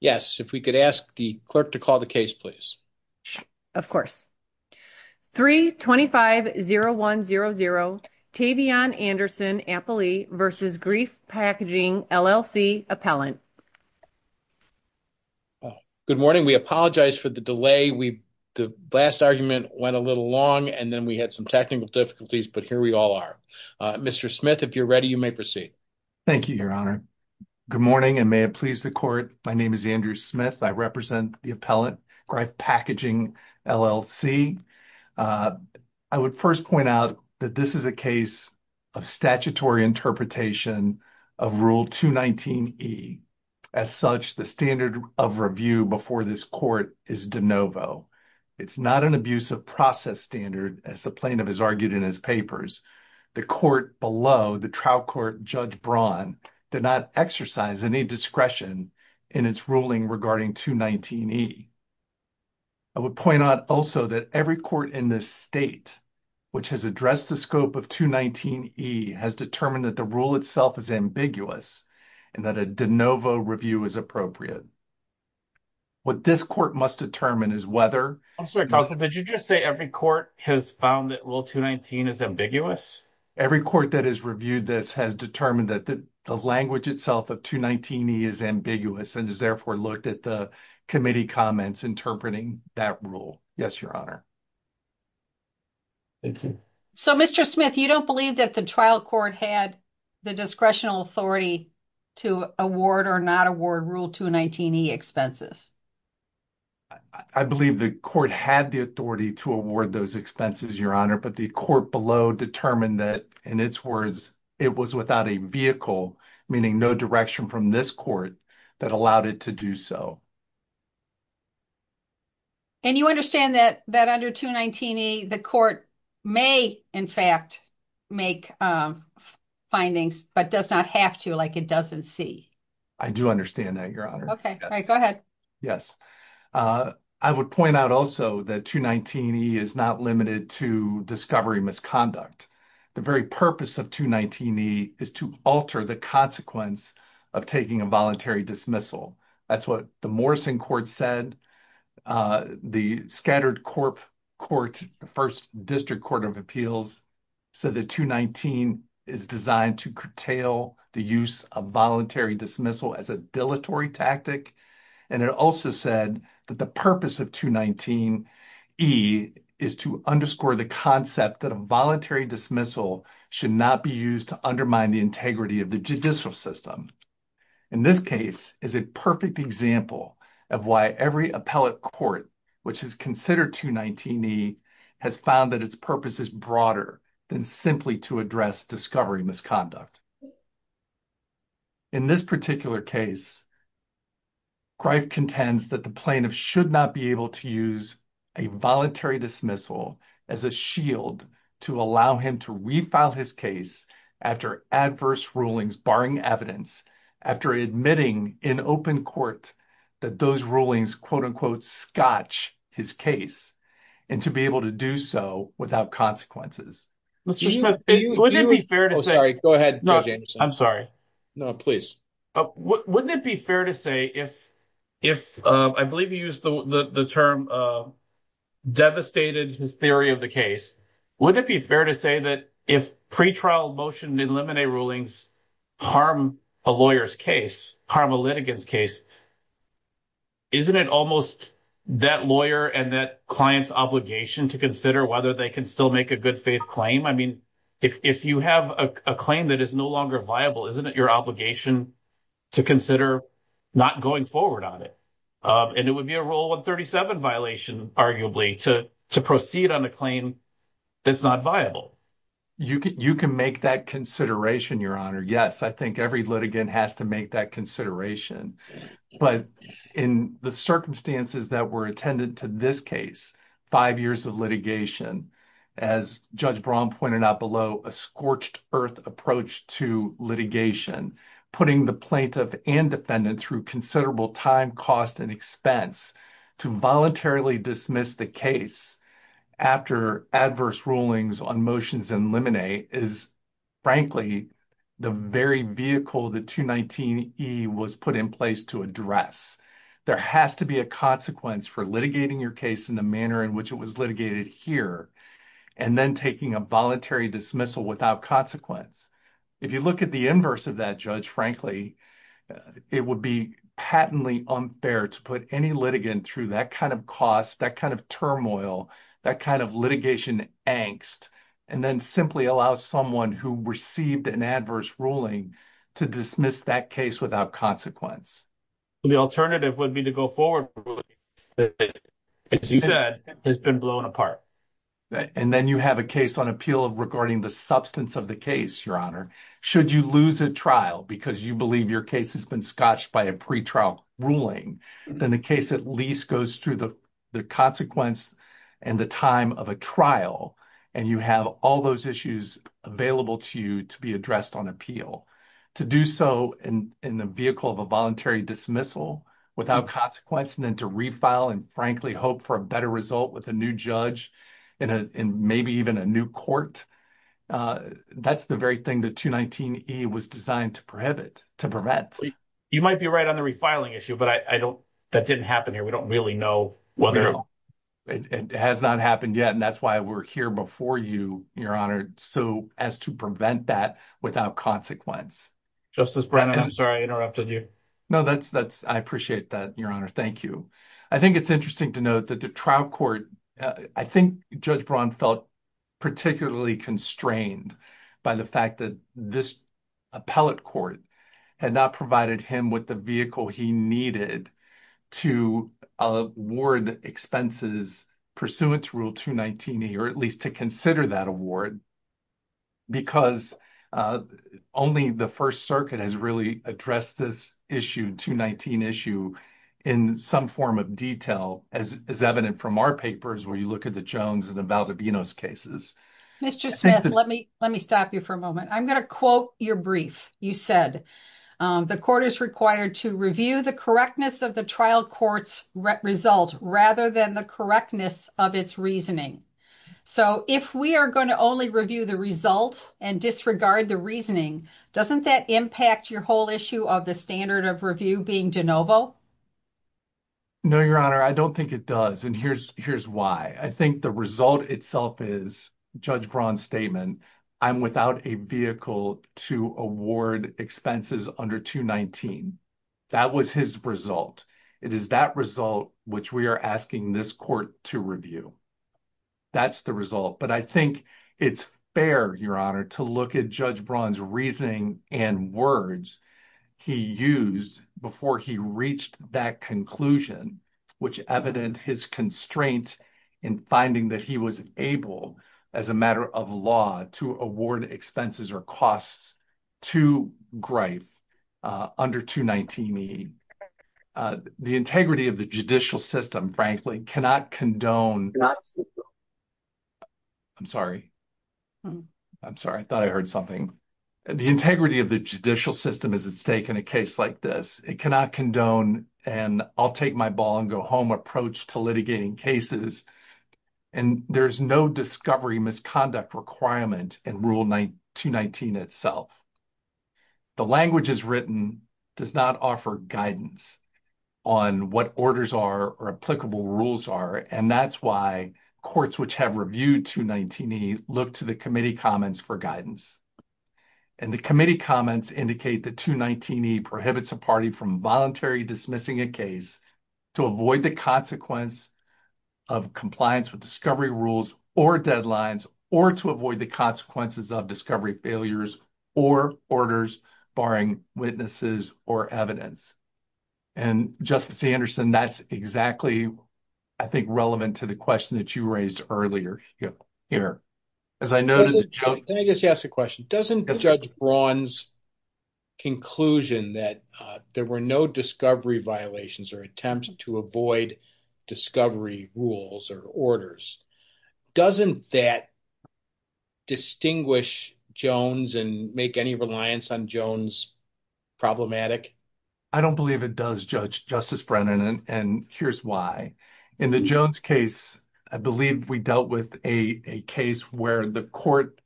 Yes, if we could ask the clerk to call the case, please. Of course. 3-25-0-1-0-0 Tavion Anderson Ampley v. Greif Packaging, LLC Appellant. Good morning. We apologize for the delay. The last argument went a little long and then we had some technical difficulties, but here we all are. Mr. Smith, if you're ready, you may proceed. Thank you, Your Honor. Good morning, and may it please the court. My name is Andrew Smith. I represent the Appellant, Greif Packaging, LLC. I would first point out that this is a case of statutory interpretation of Rule 219E. As such, the standard of review before this court is de novo. It's not an abuse of process standard, as the plaintiff has argued in his papers. The court below, the trial court, Judge Braun, did not exercise any discretion in its ruling regarding 219E. I would point out also that every court in this state which has addressed the scope of 219E has determined that the rule itself is ambiguous and that a de novo review is appropriate. What this court must determine is whether— I'm sorry, counsel, did you just say every court has found that Rule 219 is ambiguous? Every court that has reviewed this has determined that the language itself of 219E is ambiguous and has therefore looked at the committee comments interpreting that rule. Yes, Your Honor. Thank you. So, Mr. Smith, you don't believe that the trial court had the discretional authority to award or not award Rule 219E expenses? I believe the court had the authority to award those expenses, Your Honor, but the court below determined that, in its words, it was without a vehicle, meaning no direction from this court, that allowed it to do so. And you understand that under 219E, the court may, in fact, make findings but does not have to, like it doesn't see? I do understand that, Your Honor. Go ahead. Yes. I would point out also that 219E is not limited to discovery misconduct. The very purpose of 219E is to alter the consequence of taking a voluntary dismissal. That's what the Morrison Court said. The Scattered Court, the first district court of appeals, said that 219 is designed to curtail the use of voluntary dismissal as a dilatory tactic. And it also said that the purpose of 219E is to underscore the concept that a voluntary dismissal should not be used to undermine the integrity of the judicial system. In this case, it's a perfect example of why every appellate court which has considered 219E has found that its purpose is broader than simply to address discovery misconduct. In this particular case, Greif contends that the plaintiff should not be able to use a voluntary dismissal as a shield to allow him to refile his case after adverse rulings barring evidence, after admitting in open court that those rulings, quote-unquote, scotch his case, and to be able to do so without consequences. Mr. Schultz, wouldn't it be fair to say — Oh, sorry. Go ahead, Judge Anderson. I'm sorry. No, please. Wouldn't it be fair to say, if — I believe you used the term devastated his theory of the case — wouldn't it be fair to say that if pre-trial motion in limine rulings harm a lawyer's case, harm a litigant's case, isn't it almost that lawyer and that client's obligation to consider whether they can still make a good faith claim? I mean, if you have a claim that is no longer viable, isn't it your obligation to consider not going forward on it? And it would be a Rule 137 violation, arguably, to proceed on a claim that's not viable. You can make that consideration, Your Honor. Yes, I think every litigant has to make that consideration. But in the circumstances that were attended to this case, five years of litigation, as Judge Braun pointed out below, a scorched-earth approach to litigation, putting the plaintiff and defendant through considerable time, cost, and expense to voluntarily dismiss the case after adverse rulings on motions in limine is, frankly, the very vehicle the 219E was put in place to address. There has to be a consequence for litigating your case in the manner in which it was litigated here and then taking a voluntary dismissal without consequence. If you look at the inverse of that, Judge, frankly, it would be patently unfair to put any litigant through that kind of cost, that kind of turmoil, that kind of litigation angst, and then simply allow someone who received an adverse ruling to dismiss that case without consequence. The alternative would be to go forward with a ruling that, as you said, has been blown apart. And then you have a case on appeal regarding the substance of the case, Your Honor. Should you lose a trial because you believe your case has been scotched by a pretrial ruling, then the case at least goes through the consequence and the time of a trial, and you have all those issues available to you to be addressed on appeal. To do so in the vehicle of a voluntary dismissal without consequence and then to refile and, frankly, hope for a better thing that 219E was designed to prohibit, to prevent. You might be right on the refiling issue, but I don't, that didn't happen here. We don't really know whether. It has not happened yet, and that's why we're here before you, Your Honor, so as to prevent that without consequence. Justice Brennan, I'm sorry I interrupted you. No, that's, I appreciate that, Your Honor. Thank you. I think it's interesting to note that the trial court, I think Judge Braun felt particularly constrained by the fact that this appellate court had not provided him with the vehicle he needed to award expenses pursuant to Rule 219E or at least to consider that award because only the First Circuit has really addressed this issue, 219 issue, in some form of detail as is evident from our papers where you look at the Jones and the Valdobinos cases. Mr. Smith, let me stop you for a moment. I'm going to quote your brief. You said, the court is required to review the correctness of the trial court's result rather than the correctness of its reasoning. So, if we are going to only review the result and disregard the reasoning, doesn't that impact your whole issue of the standard of review being de novo? No, Your Honor, I don't think it does, and here's why. I think the result itself is Judge Braun's statement, I'm without a vehicle to award expenses under 219. That was his result. It is that result which we are asking this court to review. That's the result, but I think it's fair, Your Honor, to look at Judge Braun's reasoning and words he used before he reached that conclusion, which evident his constraint in finding that he was able, as a matter of law, to award expenses or costs to Greif under 219e. The integrity of the judicial system, frankly, cannot condone. I'm sorry. I'm sorry. I thought I heard something. The integrity of the and I'll take my ball and go home approach to litigating cases, and there's no discovery misconduct requirement in Rule 219 itself. The language is written does not offer guidance on what orders are or applicable rules are, and that's why courts which have reviewed 219e look to the committee comments for guidance, and the committee comments indicate that 219e prohibits a party from voluntary dismissing a case to avoid the consequence of compliance with discovery rules or deadlines or to avoid the consequences of discovery failures or orders barring witnesses or evidence, and, Justice Anderson, that's exactly, I think, relevant to the question that you raised earlier here. As I know, let me just ask a question. Doesn't Judge Braun's conclusion that there were no discovery violations or attempts to avoid discovery rules or orders, doesn't that distinguish Jones and make any reliance on Jones problematic? I don't believe it does, Justice Brennan, and here's why. In the court,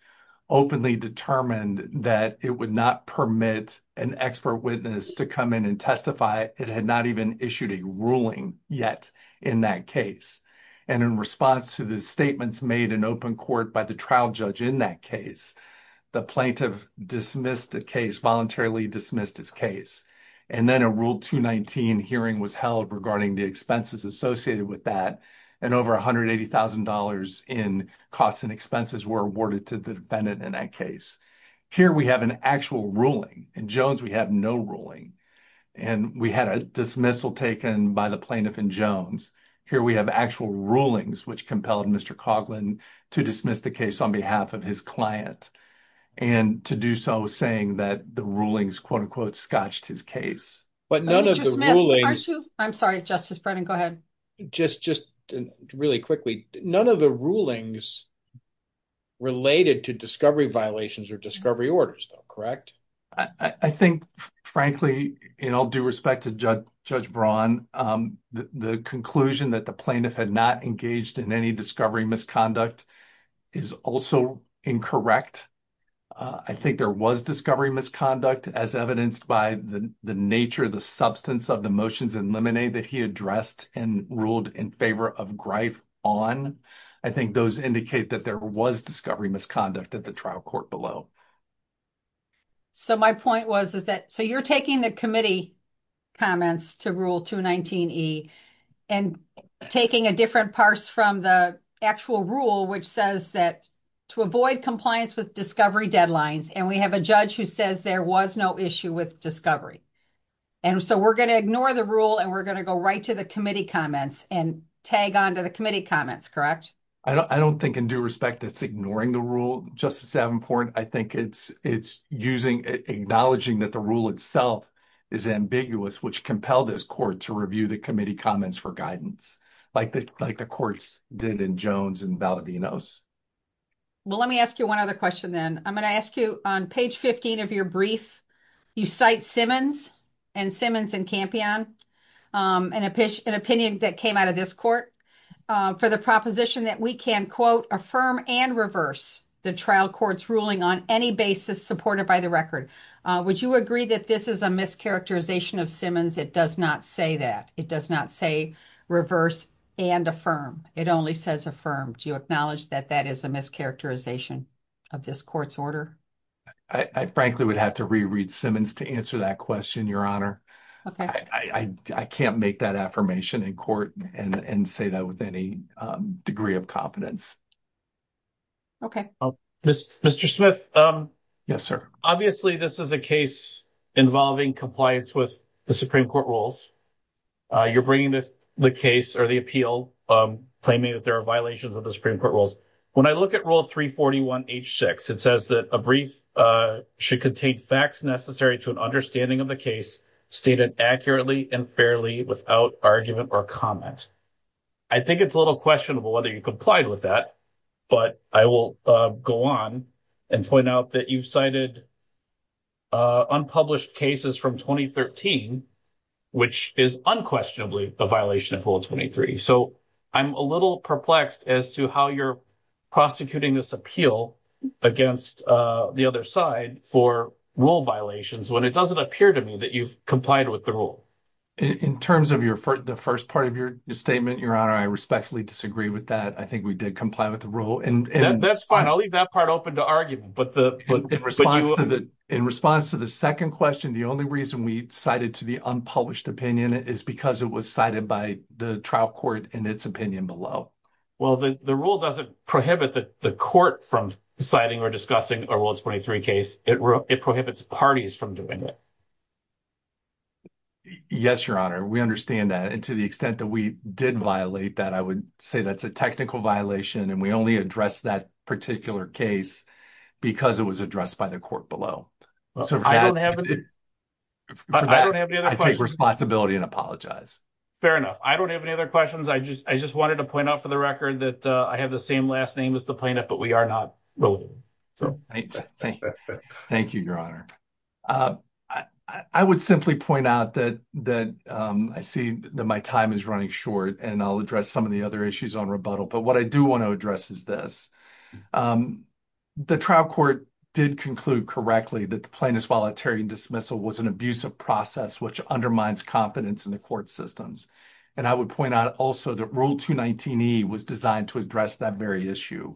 openly determined that it would not permit an expert witness to come in and testify. It had not even issued a ruling yet in that case, and in response to the statements made in open court by the trial judge in that case, the plaintiff dismissed the case, voluntarily dismissed his case, and then a Rule 219 hearing was held regarding the expenses associated with that, and over $180,000 in costs and expenses were awarded to the defendant in that case. Here we have an actual ruling. In Jones, we have no ruling, and we had a dismissal taken by the plaintiff in Jones. Here we have actual rulings which compelled Mr. Coughlin to dismiss the case on behalf of his client and to do so saying that the rulings, quote-unquote, scotched his case. But none of the rulings... I'm sorry, Justice Brennan, go ahead. Just really quickly, none of the rulings related to discovery violations or discovery orders though, correct? I think, frankly, in all due respect to Judge Braun, the conclusion that the plaintiff had not engaged in any discovery misconduct is also incorrect. I think there was discovery misconduct as evidenced by the nature, the substance of the motions in Lemonade that he addressed and ruled in favor of Grife on. I think those indicate that there was discovery misconduct at the trial court below. So, my point was is that... So, you're taking the committee comments to Rule 219E and taking a different parse from the actual rule which says that to avoid compliance with discovery deadlines. And we have a judge who says there was no issue with discovery. And so, we're going to ignore the rule and we're going to go right to the committee comments and tag on to the committee comments, correct? I don't think in due respect that's ignoring the rule, Justice Davenport. I think it's acknowledging that the rule itself is ambiguous which compelled this court to review the committee comments for guidance like the courts did in Jones and Valadinos. Well, let me ask you one other question then. I'm going to ask you on page 15 of your brief, you cite Simmons and Simmons and Campion, an opinion that came out of this court for the proposition that we can quote, affirm and reverse the trial court's ruling on any basis supported by the record. Would you agree that this is a mischaracterization of Simmons? It does not say that. It does not say reverse and affirm. It only says affirm. Do you acknowledge that that is a mischaracterization of this court's order? I frankly would have to reread Simmons to answer that question, Your Honor. Okay. I can't make that affirmation in court and say that with any degree of competence. Okay. Mr. Smith. Yes, sir. Obviously, this is a case involving compliance with the Supreme Court rules. You're bringing this, the case or the appeal claiming that there are violations of the Supreme Court rules. When I look at rule 341H6, it says that a brief should contain facts necessary to an understanding of the case stated accurately and fairly without argument or comment. I think it's a little questionable whether you complied with that, but I will go on and point out that you've cited unpublished cases from 2013, which is unquestionably a violation of Rule 23. So I'm a little perplexed as to how you're prosecuting this appeal against the other side for rule violations when it doesn't appear to me that you've complied with the rule. In terms of the first part of your statement, I respectfully disagree with that. I think we did comply with the rule. That's fine. I'll leave that part open to argument. In response to the second question, the only reason we cited to the unpublished opinion is because it was cited by the trial court in its opinion below. Well, the rule doesn't prohibit the court from citing or discussing a Rule 23 case. It prohibits parties from doing it. Yes, Your Honor. We understand and to the extent that we did violate that, I would say that's a technical violation and we only addressed that particular case because it was addressed by the court below. I take responsibility and apologize. Fair enough. I don't have any other questions. I just wanted to point out for the record that I have the same last name as the plaintiff, but we are not related. Thank you, Your Honor. I would simply point out that I see that my time is running short and I'll address some of the other issues on rebuttal, but what I do want to address is this. The trial court did conclude correctly that the plaintiff's voluntary dismissal was an abusive process which undermines confidence in the court systems. I would point out also that Rule 219E was designed to address that very issue.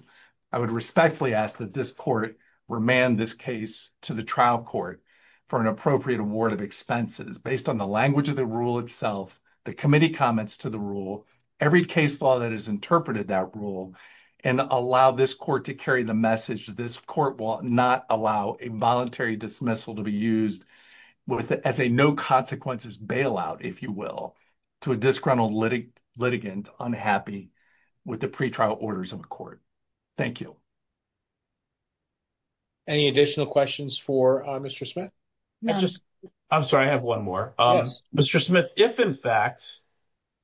I would respectfully ask that this court remand this case to the trial court for an appropriate award of expenses based on the language of the rule itself, the committee comments to the rule, every case law that has interpreted that rule, and allow this court to carry the message that this court will not allow a voluntary dismissal to be used as a no consequences bailout, if you will, to a disgruntled litigant unhappy with the pretrial orders of the court. Thank you. Any additional questions for Mr. Smith? I'm sorry, I have one more. Mr. Smith,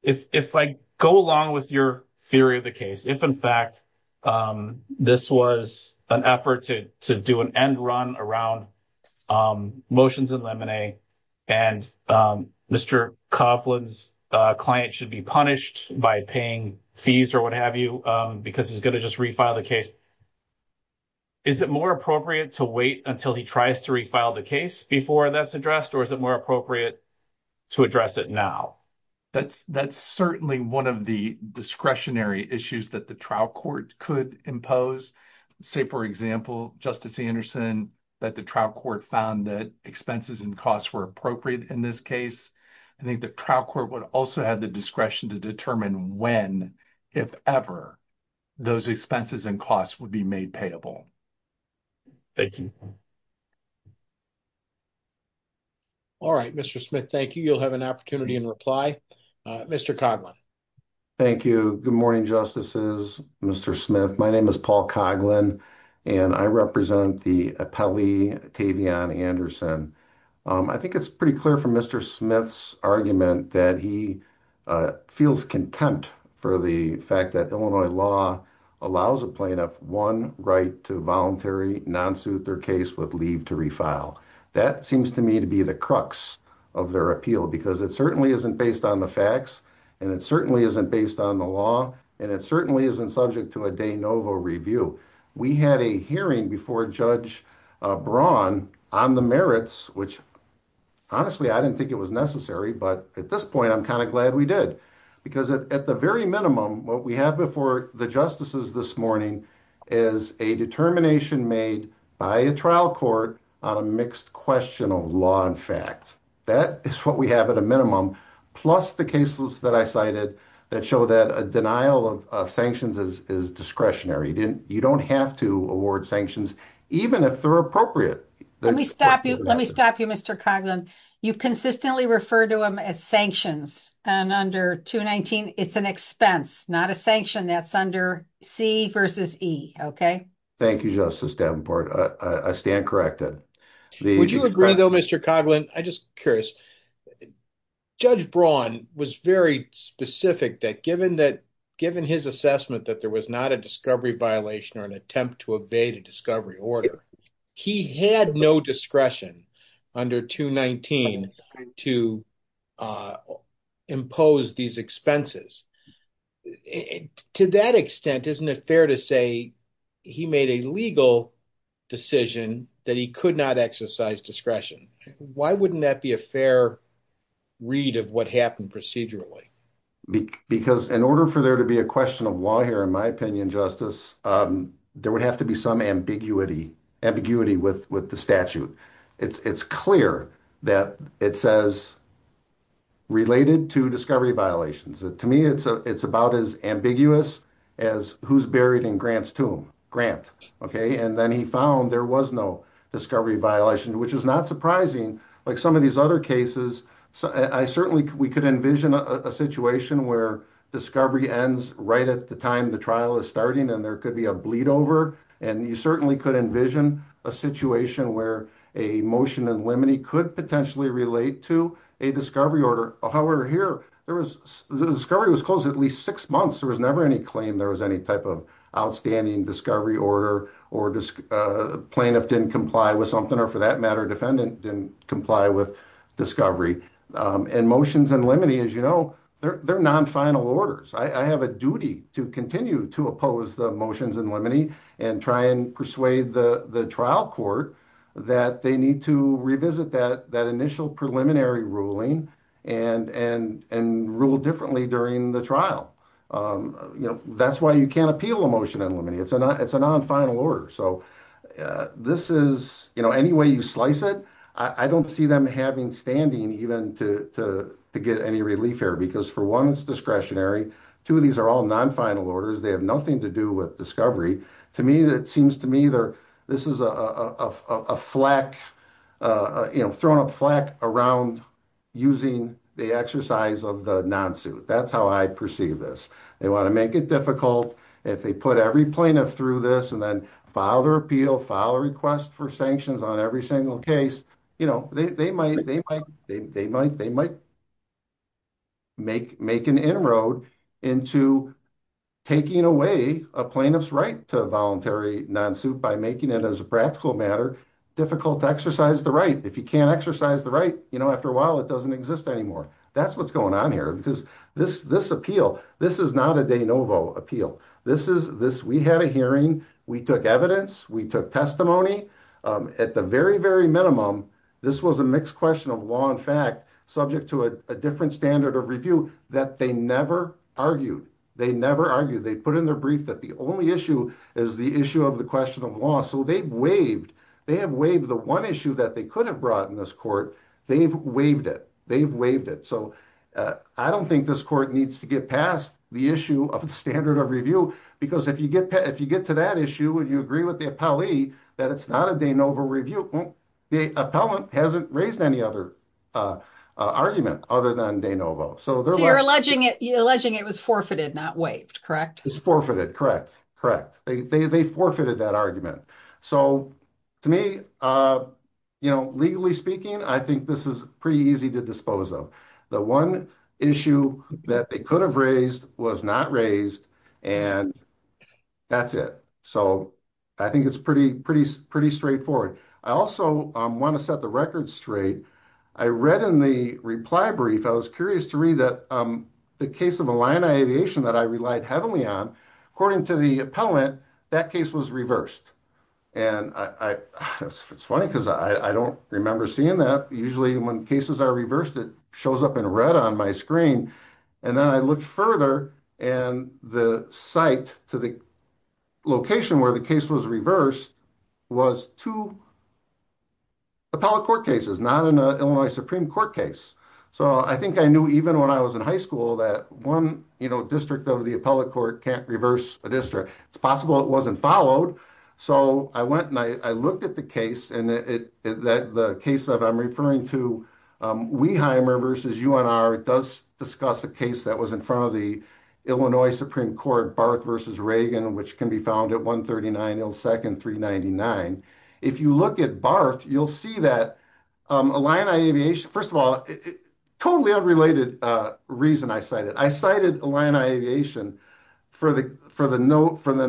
if I go along with your theory of the case, if in fact this was an effort to do an end run around motions in lemonade and Mr. Coughlin's client should be punished by paying fees or what have you because he's going to just refile the case, is it more appropriate to wait until he tries to refile the case before that's addressed or is it more appropriate to address it now? That's certainly one of the discretionary issues that the trial court could impose. Say for example, Justice Anderson, that the trial court found that expenses and costs were appropriate in this case. I think the trial court would also have the discretion to determine when, if ever, those expenses and costs would be made payable. Thank you. All right, Mr. Smith, thank you. You'll have an opportunity in reply. Mr. Coughlin. Thank you. Good morning, Justices, Mr. Smith. My name is Paul Coughlin and I represent the appellee, Tavion Anderson. I think it's pretty clear from Mr. Smith's argument that he feels contempt for the fact that Illinois law allows a plaintiff one right to voluntary non-suit their case with leave to refile. That seems to me to be the crux of their appeal because it certainly isn't based on the facts and it certainly isn't based on the law and it certainly isn't subject to a de novo review. We had a hearing before Judge Braun on the merits, which honestly, I didn't think it was necessary, but at this point, I'm kind of glad we did because at the very minimum, what we have before the justices this morning is a determination made by a trial court on a mixed question of law and fact. That is what we have at a minimum, plus the cases that I cited that show that a denial of sanctions is discretionary. You don't have to award sanctions, even if they're appropriate. Let me stop you, Mr. Coughlin. You consistently refer to them as sanctions and under 219, it's an expense, not a sanction. That's C versus E. Thank you, Justice Davenport. I stand corrected. Would you agree, though, Mr. Coughlin? I'm just curious. Judge Braun was very specific that given his assessment that there was not a discovery violation or an attempt to evade a discovery order, he had no discretion under 219 to impose these expenses. To that extent, isn't it fair to say he made a legal decision that he could not exercise discretion? Why wouldn't that be a fair read of what happened procedurally? Because in order for there to be a question of law here, in my opinion, Justice, there would have to be some ambiguity with the statute. It's clear that it says related to discovery violations. To me, it's about as ambiguous as who's buried in Grant's tomb, Grant. Then he found there was no discovery violation, which is not surprising. Like some of these other cases, we could envision a situation where discovery ends right at the time the trial is starting, and there could be a bleed over. You certainly could envision a situation where a motion in limine could potentially relate to a discovery order. However, here, the discovery was closed at least six months. There was never any claim there was any type of outstanding discovery order or plaintiff didn't comply with something, or for that matter, defendant didn't comply with discovery. Motions in limine, as you know, they're non-final orders. I have a duty to continue to oppose the motions in limine and try and persuade the trial court that they need to revisit that initial preliminary ruling and rule differently during the trial. That's why you can't appeal a motion in limine. It's a non-final order. Any way you slice it, I don't see them having standing even to get any relief here, because for one, it's discretionary. Two, these are all non-final orders. They have nothing to do with discovery. To me, it seems to me this is a thrown-up flack around using the exercise of the non-suit. That's how I perceive this. They want to make it difficult. If they put every plaintiff through this and then file their appeal, file a request for sanctions on every single case, they might make an inroad into taking away a plaintiff's right to a voluntary non-suit by making it, as a practical matter, difficult to exercise the right. If you can't exercise the right, after a while, it doesn't exist anymore. That's what's going on here. This appeal, this is not a de novo appeal. We had a hearing. We took evidence. We took testimony. At the very, minimum, this was a mixed question of law and fact, subject to a different standard of review that they never argued. They never argued. They put in their brief that the only issue is the issue of the question of law, so they've waived. They have waived the one issue that they could have brought in this court. They've waived it. They've waived it. I don't think this court needs to get past the issue of the standard of review, because if you get to that issue, you agree with the appellee that it's not a de novo review. The appellant hasn't raised any other argument other than de novo. You're alleging it was forfeited, not waived, correct? It was forfeited, correct. They forfeited that argument. To me, legally speaking, I think this is pretty easy to dispose of. The one issue that they could have raised was not raised, and that's it. I think it's pretty straightforward. I also want to set the record straight. I read in the reply brief, I was curious to read that the case of Illini Aviation that I relied heavily on, according to the appellant, that case was reversed. It's funny, because I don't remember seeing that. Usually, when cases are reversed, it shows up in red on my screen. Then I looked further, and the site to the location where the case was reversed was two appellate court cases, not an Illinois Supreme Court case. I think I knew even when I was in high school that one district of the appellate court can't reverse a district. It's possible it wasn't followed. I went and I looked at the case, and the case that I'm referring to, Weiheimer v. UNR, it does discuss a case that was in front of the Illinois Supreme Court, Barth v. Reagan, which can be found at 139 Hill 2nd, 399. If you look at Barth, you'll see that Illini Aviation, first of all, totally unrelated reason I cited. I cited Illini Aviation for the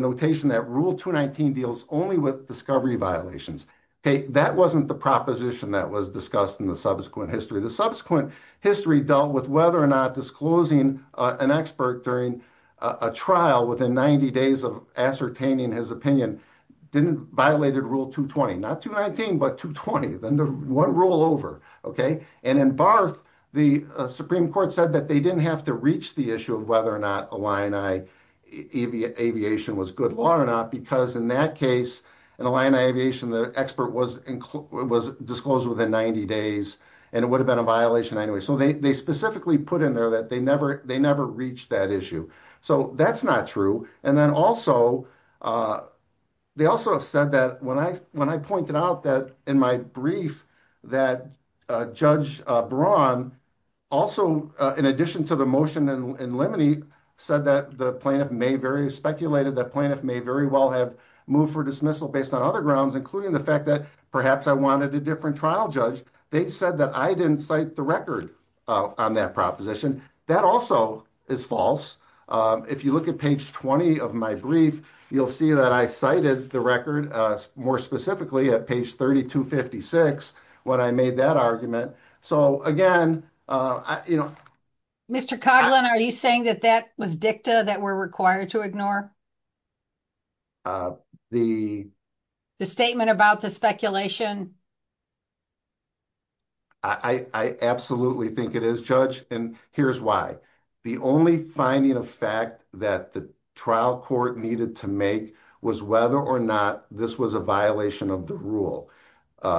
notation that Rule 219 deals only with discovery violations. That wasn't the proposition that was discussed in the subsequent history. The subsequent history dealt with whether or not disclosing an expert during a trial within 90 days of ascertaining his opinion didn't violate Rule 220. Not 219, but 220, then one rule over. In Barth, the Supreme Court said that they didn't have to reach the issue of whether or not Illini Aviation was good law or not, because in that case, Illini Aviation, the expert was disclosed within 90 days, and it would have been a violation anyway. So they specifically put in there that they never reached that issue. So that's not true. And then also, they also have said that when I pointed out that in my brief, that Judge Braun, also in addition to the motion in limine, said that the plaintiff may very, speculated that the plaintiff may very well have moved for dismissal based on other grounds, including the fact that perhaps I wanted a different trial judge, they said that I didn't cite the record on that proposition. That also is false. If you look at page 20 of my brief, you'll see that I cited the record more specifically at page 3256 when I made that argument. So again, you know, Mr. Coughlin, are you saying that that was dicta that we're required to ignore? The statement about the speculation? I absolutely think it is, Judge, and here's why. The only finding of fact that the trial court needed to make was whether or not this was a violation of the rule,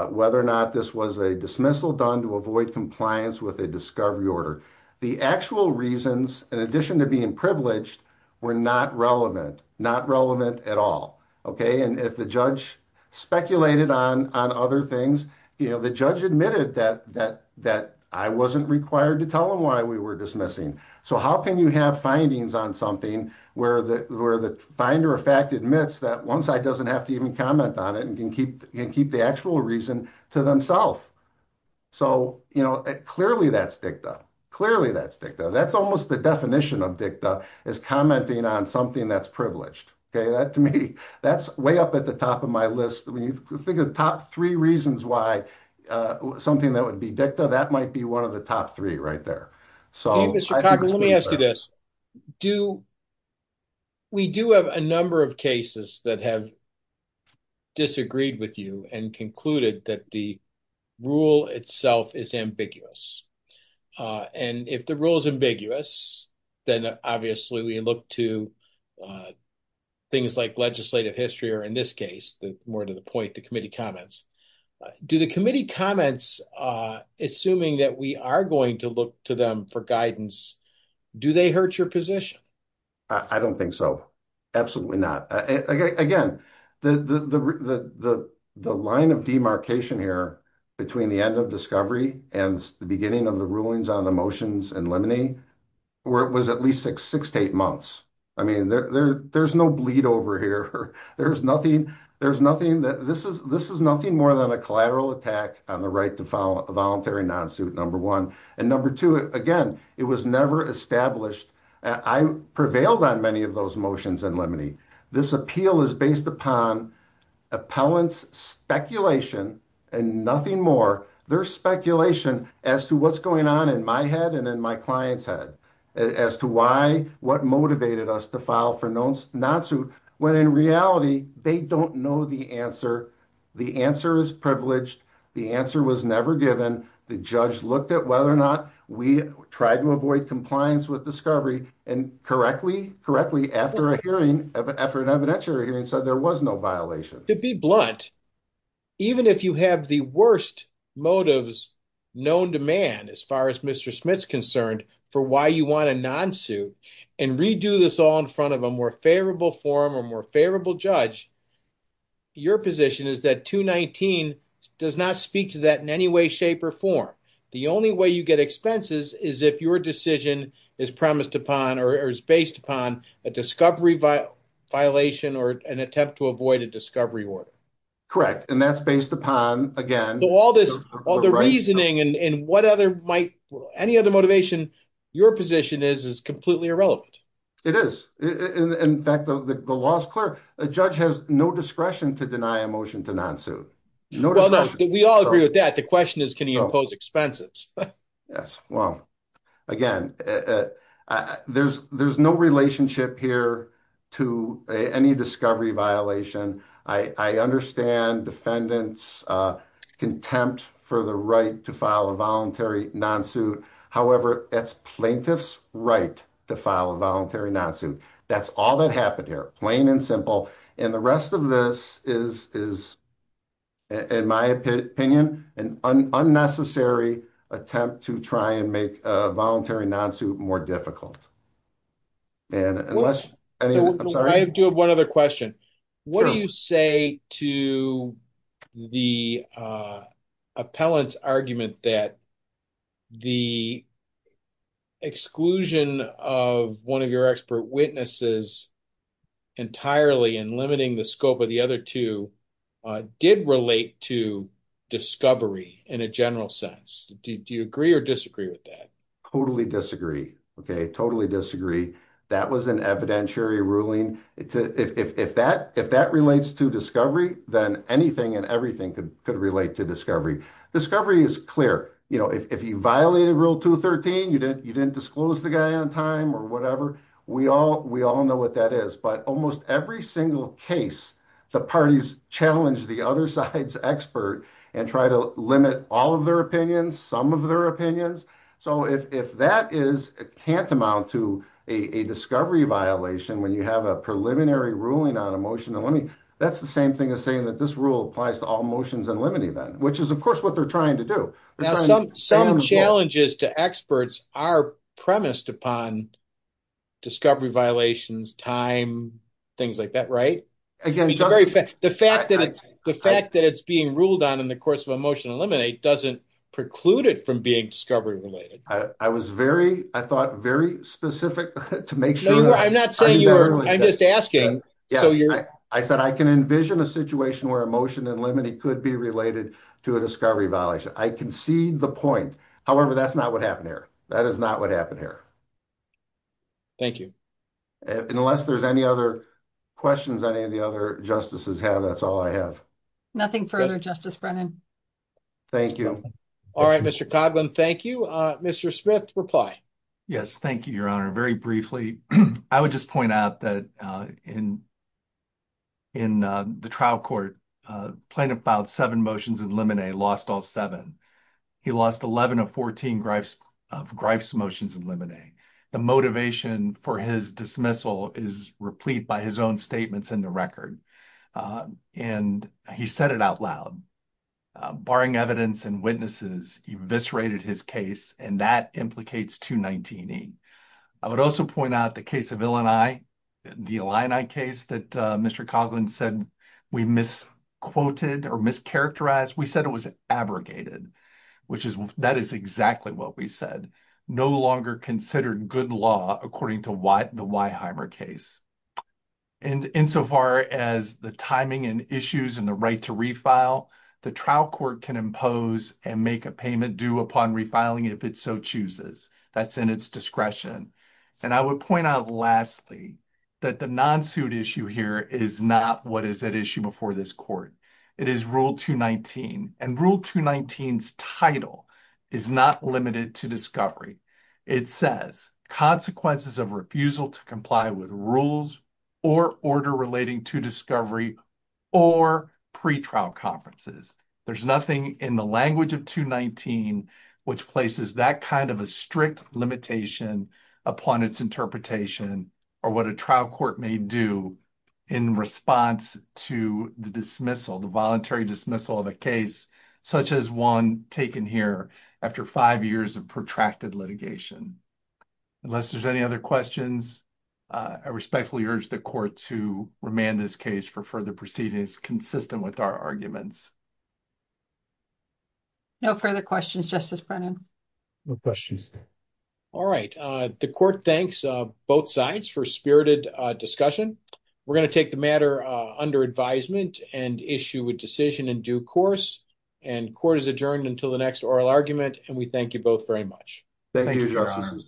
whether or not this was a dismissal done to avoid compliance with a discovery order. The actual reasons, in addition to being privileged, were not relevant, not relevant at all, okay? And if the judge speculated on other things, you know, the judge admitted that I wasn't required to tell him why we were dismissing. So how can you have findings on something where the finder of fact admits that one side doesn't have to even comment on it and can keep the actual reason to themself? So, you know, clearly that's dicta. Clearly that's dicta. That's almost the definition of dicta, is commenting on something that's privileged, okay? That, to me, that's way up at the top of my list. When you think of the top three reasons why something that would be dicta, that might be one of the top three right there. So, I think it's pretty clear. Okay, Mr. Coughlin, let me ask you this. Do, we do have a number of cases that have disagreed with you and concluded that the rule itself is ambiguous. And if the rule is ambiguous, then obviously we look to things like legislative history, or in this case, more to the point, the committee comments. Do the committee comments, assuming that we are going to look to them for guidance, do they hurt your position? I don't think so. Absolutely not. Again, the line of demarcation here between the end of Discovery and the beginning of the rulings on the motions in Lemony was at least six to eight months. I mean, there's no bleed over here. There's nothing, there's nothing, this is nothing more than a collateral attack on the right to voluntary non-suit, number one. And number two, again, it was never established. I prevailed on many of those motions in Lemony. This appeal is based upon appellant's speculation and nothing more, their speculation as to what's going on in my head and in my client's head, as to why, what motivated us to file for non-suit, when in reality, they don't know the answer. The answer is privileged. The answer was never given. The judge looked at whether or not we tried to avoid compliance with Discovery and correctly, correctly, after a hearing, after an evidentiary hearing, said there was no violation. To be blunt, even if you have the worst motives known to man, as far as Mr. Smith's concerned, for why you want a non-suit and redo this all in front of a more favorable forum or more favorable judge, your position is that 219 does not speak to that in any way, shape or form. The only way you get expenses is if your decision is promised upon or is based upon a Discovery violation or an attempt to avoid a Discovery order. Correct. And that's based upon, again, all this, all the reasoning and what other might, any other motivation, your position is, is completely irrelevant. It is. In fact, the law is clear. A judge has no discretion to deny a motion to non-suit. Well, no, we all agree with that. The question is, can he impose expenses? Yes. Well, again, there's no relationship here to any Discovery violation. I understand defendants' contempt for the right to file a voluntary non-suit. However, that's plaintiff's right to file a voluntary non-suit. That's all that happened here, plain and simple. And the rest of this is, in my opinion, an unnecessary attempt to try and make a voluntary non-suit more difficult. I'm sorry. I do have one other question. What do you say to the appellant's argument that the exclusion of one of your expert witnesses entirely and limiting the scope of the other two did relate to Discovery in a general sense? Do you agree or disagree with that? Totally disagree. Okay. Totally disagree. That was evidentiary ruling. If that relates to Discovery, then anything and everything could relate to Discovery. Discovery is clear. If you violated Rule 213, you didn't disclose the guy on time or whatever, we all know what that is. But almost every single case, the parties challenge the other side's expert and try to limit all of their opinions, some of their opinions. So, if that is tantamount to a Discovery violation when you have a preliminary ruling on a motion, that's the same thing as saying that this rule applies to all motions and limiting them, which is, of course, what they're trying to do. Some challenges to experts are premised upon Discovery violations, time, things like that, right? The fact that it's being ruled on in the I was very, I thought, very specific to make sure. I'm not saying you're, I'm just asking. I said I can envision a situation where a motion and limiting could be related to a Discovery violation. I can see the point. However, that's not what happened here. That is not what happened here. Thank you. Unless there's any other questions any of the other justices have, that's all I have. Nothing further, Justice Brennan. Thank you. All right, Mr. Cogman, thank you. Mr. Smith, reply. Yes, thank you, Your Honor. Very briefly, I would just point out that in the trial court, Plaintiff filed seven motions and Lemonet lost all seven. He lost 11 of 14 of Griff's motions and Lemonet. The motivation for his dismissal is replete by his own statements in the record. And he said it out loud, barring evidence and witnesses, eviscerated his case. And that implicates 219E. I would also point out the case of Illini, the Illini case that Mr. Cogman said we misquoted or mischaracterized. We said it was abrogated, which is, that is exactly what we said. No longer considered good law according to the Weiheimer case. And insofar as the timing and issues and the right to refile, the trial court can impose and make a payment due upon refiling if it so chooses. That's in its discretion. And I would point out, lastly, that the non-suit issue here is not what is at issue before this court. It is Rule 219. And Rule 219's title is not limited to discovery. It says, consequences of refusal to comply with rules or order relating to discovery or pretrial conferences. There's nothing in the language of 219 which places that kind of a strict limitation upon its interpretation or what a trial court may do in response to the dismissal, the voluntary dismissal of a case such as one taken here after five years of protracted litigation. Unless there's any other questions, I respectfully urge the court to remand this case for further proceedings consistent with our arguments. No further questions, Justice Brennan. No questions. All right. The court thanks both sides for spirited discussion. We're going to take the matter under advisement and issue a decision in due course. And court is adjourned until the next oral argument. And we thank you both very much. Thank you, Your Honor.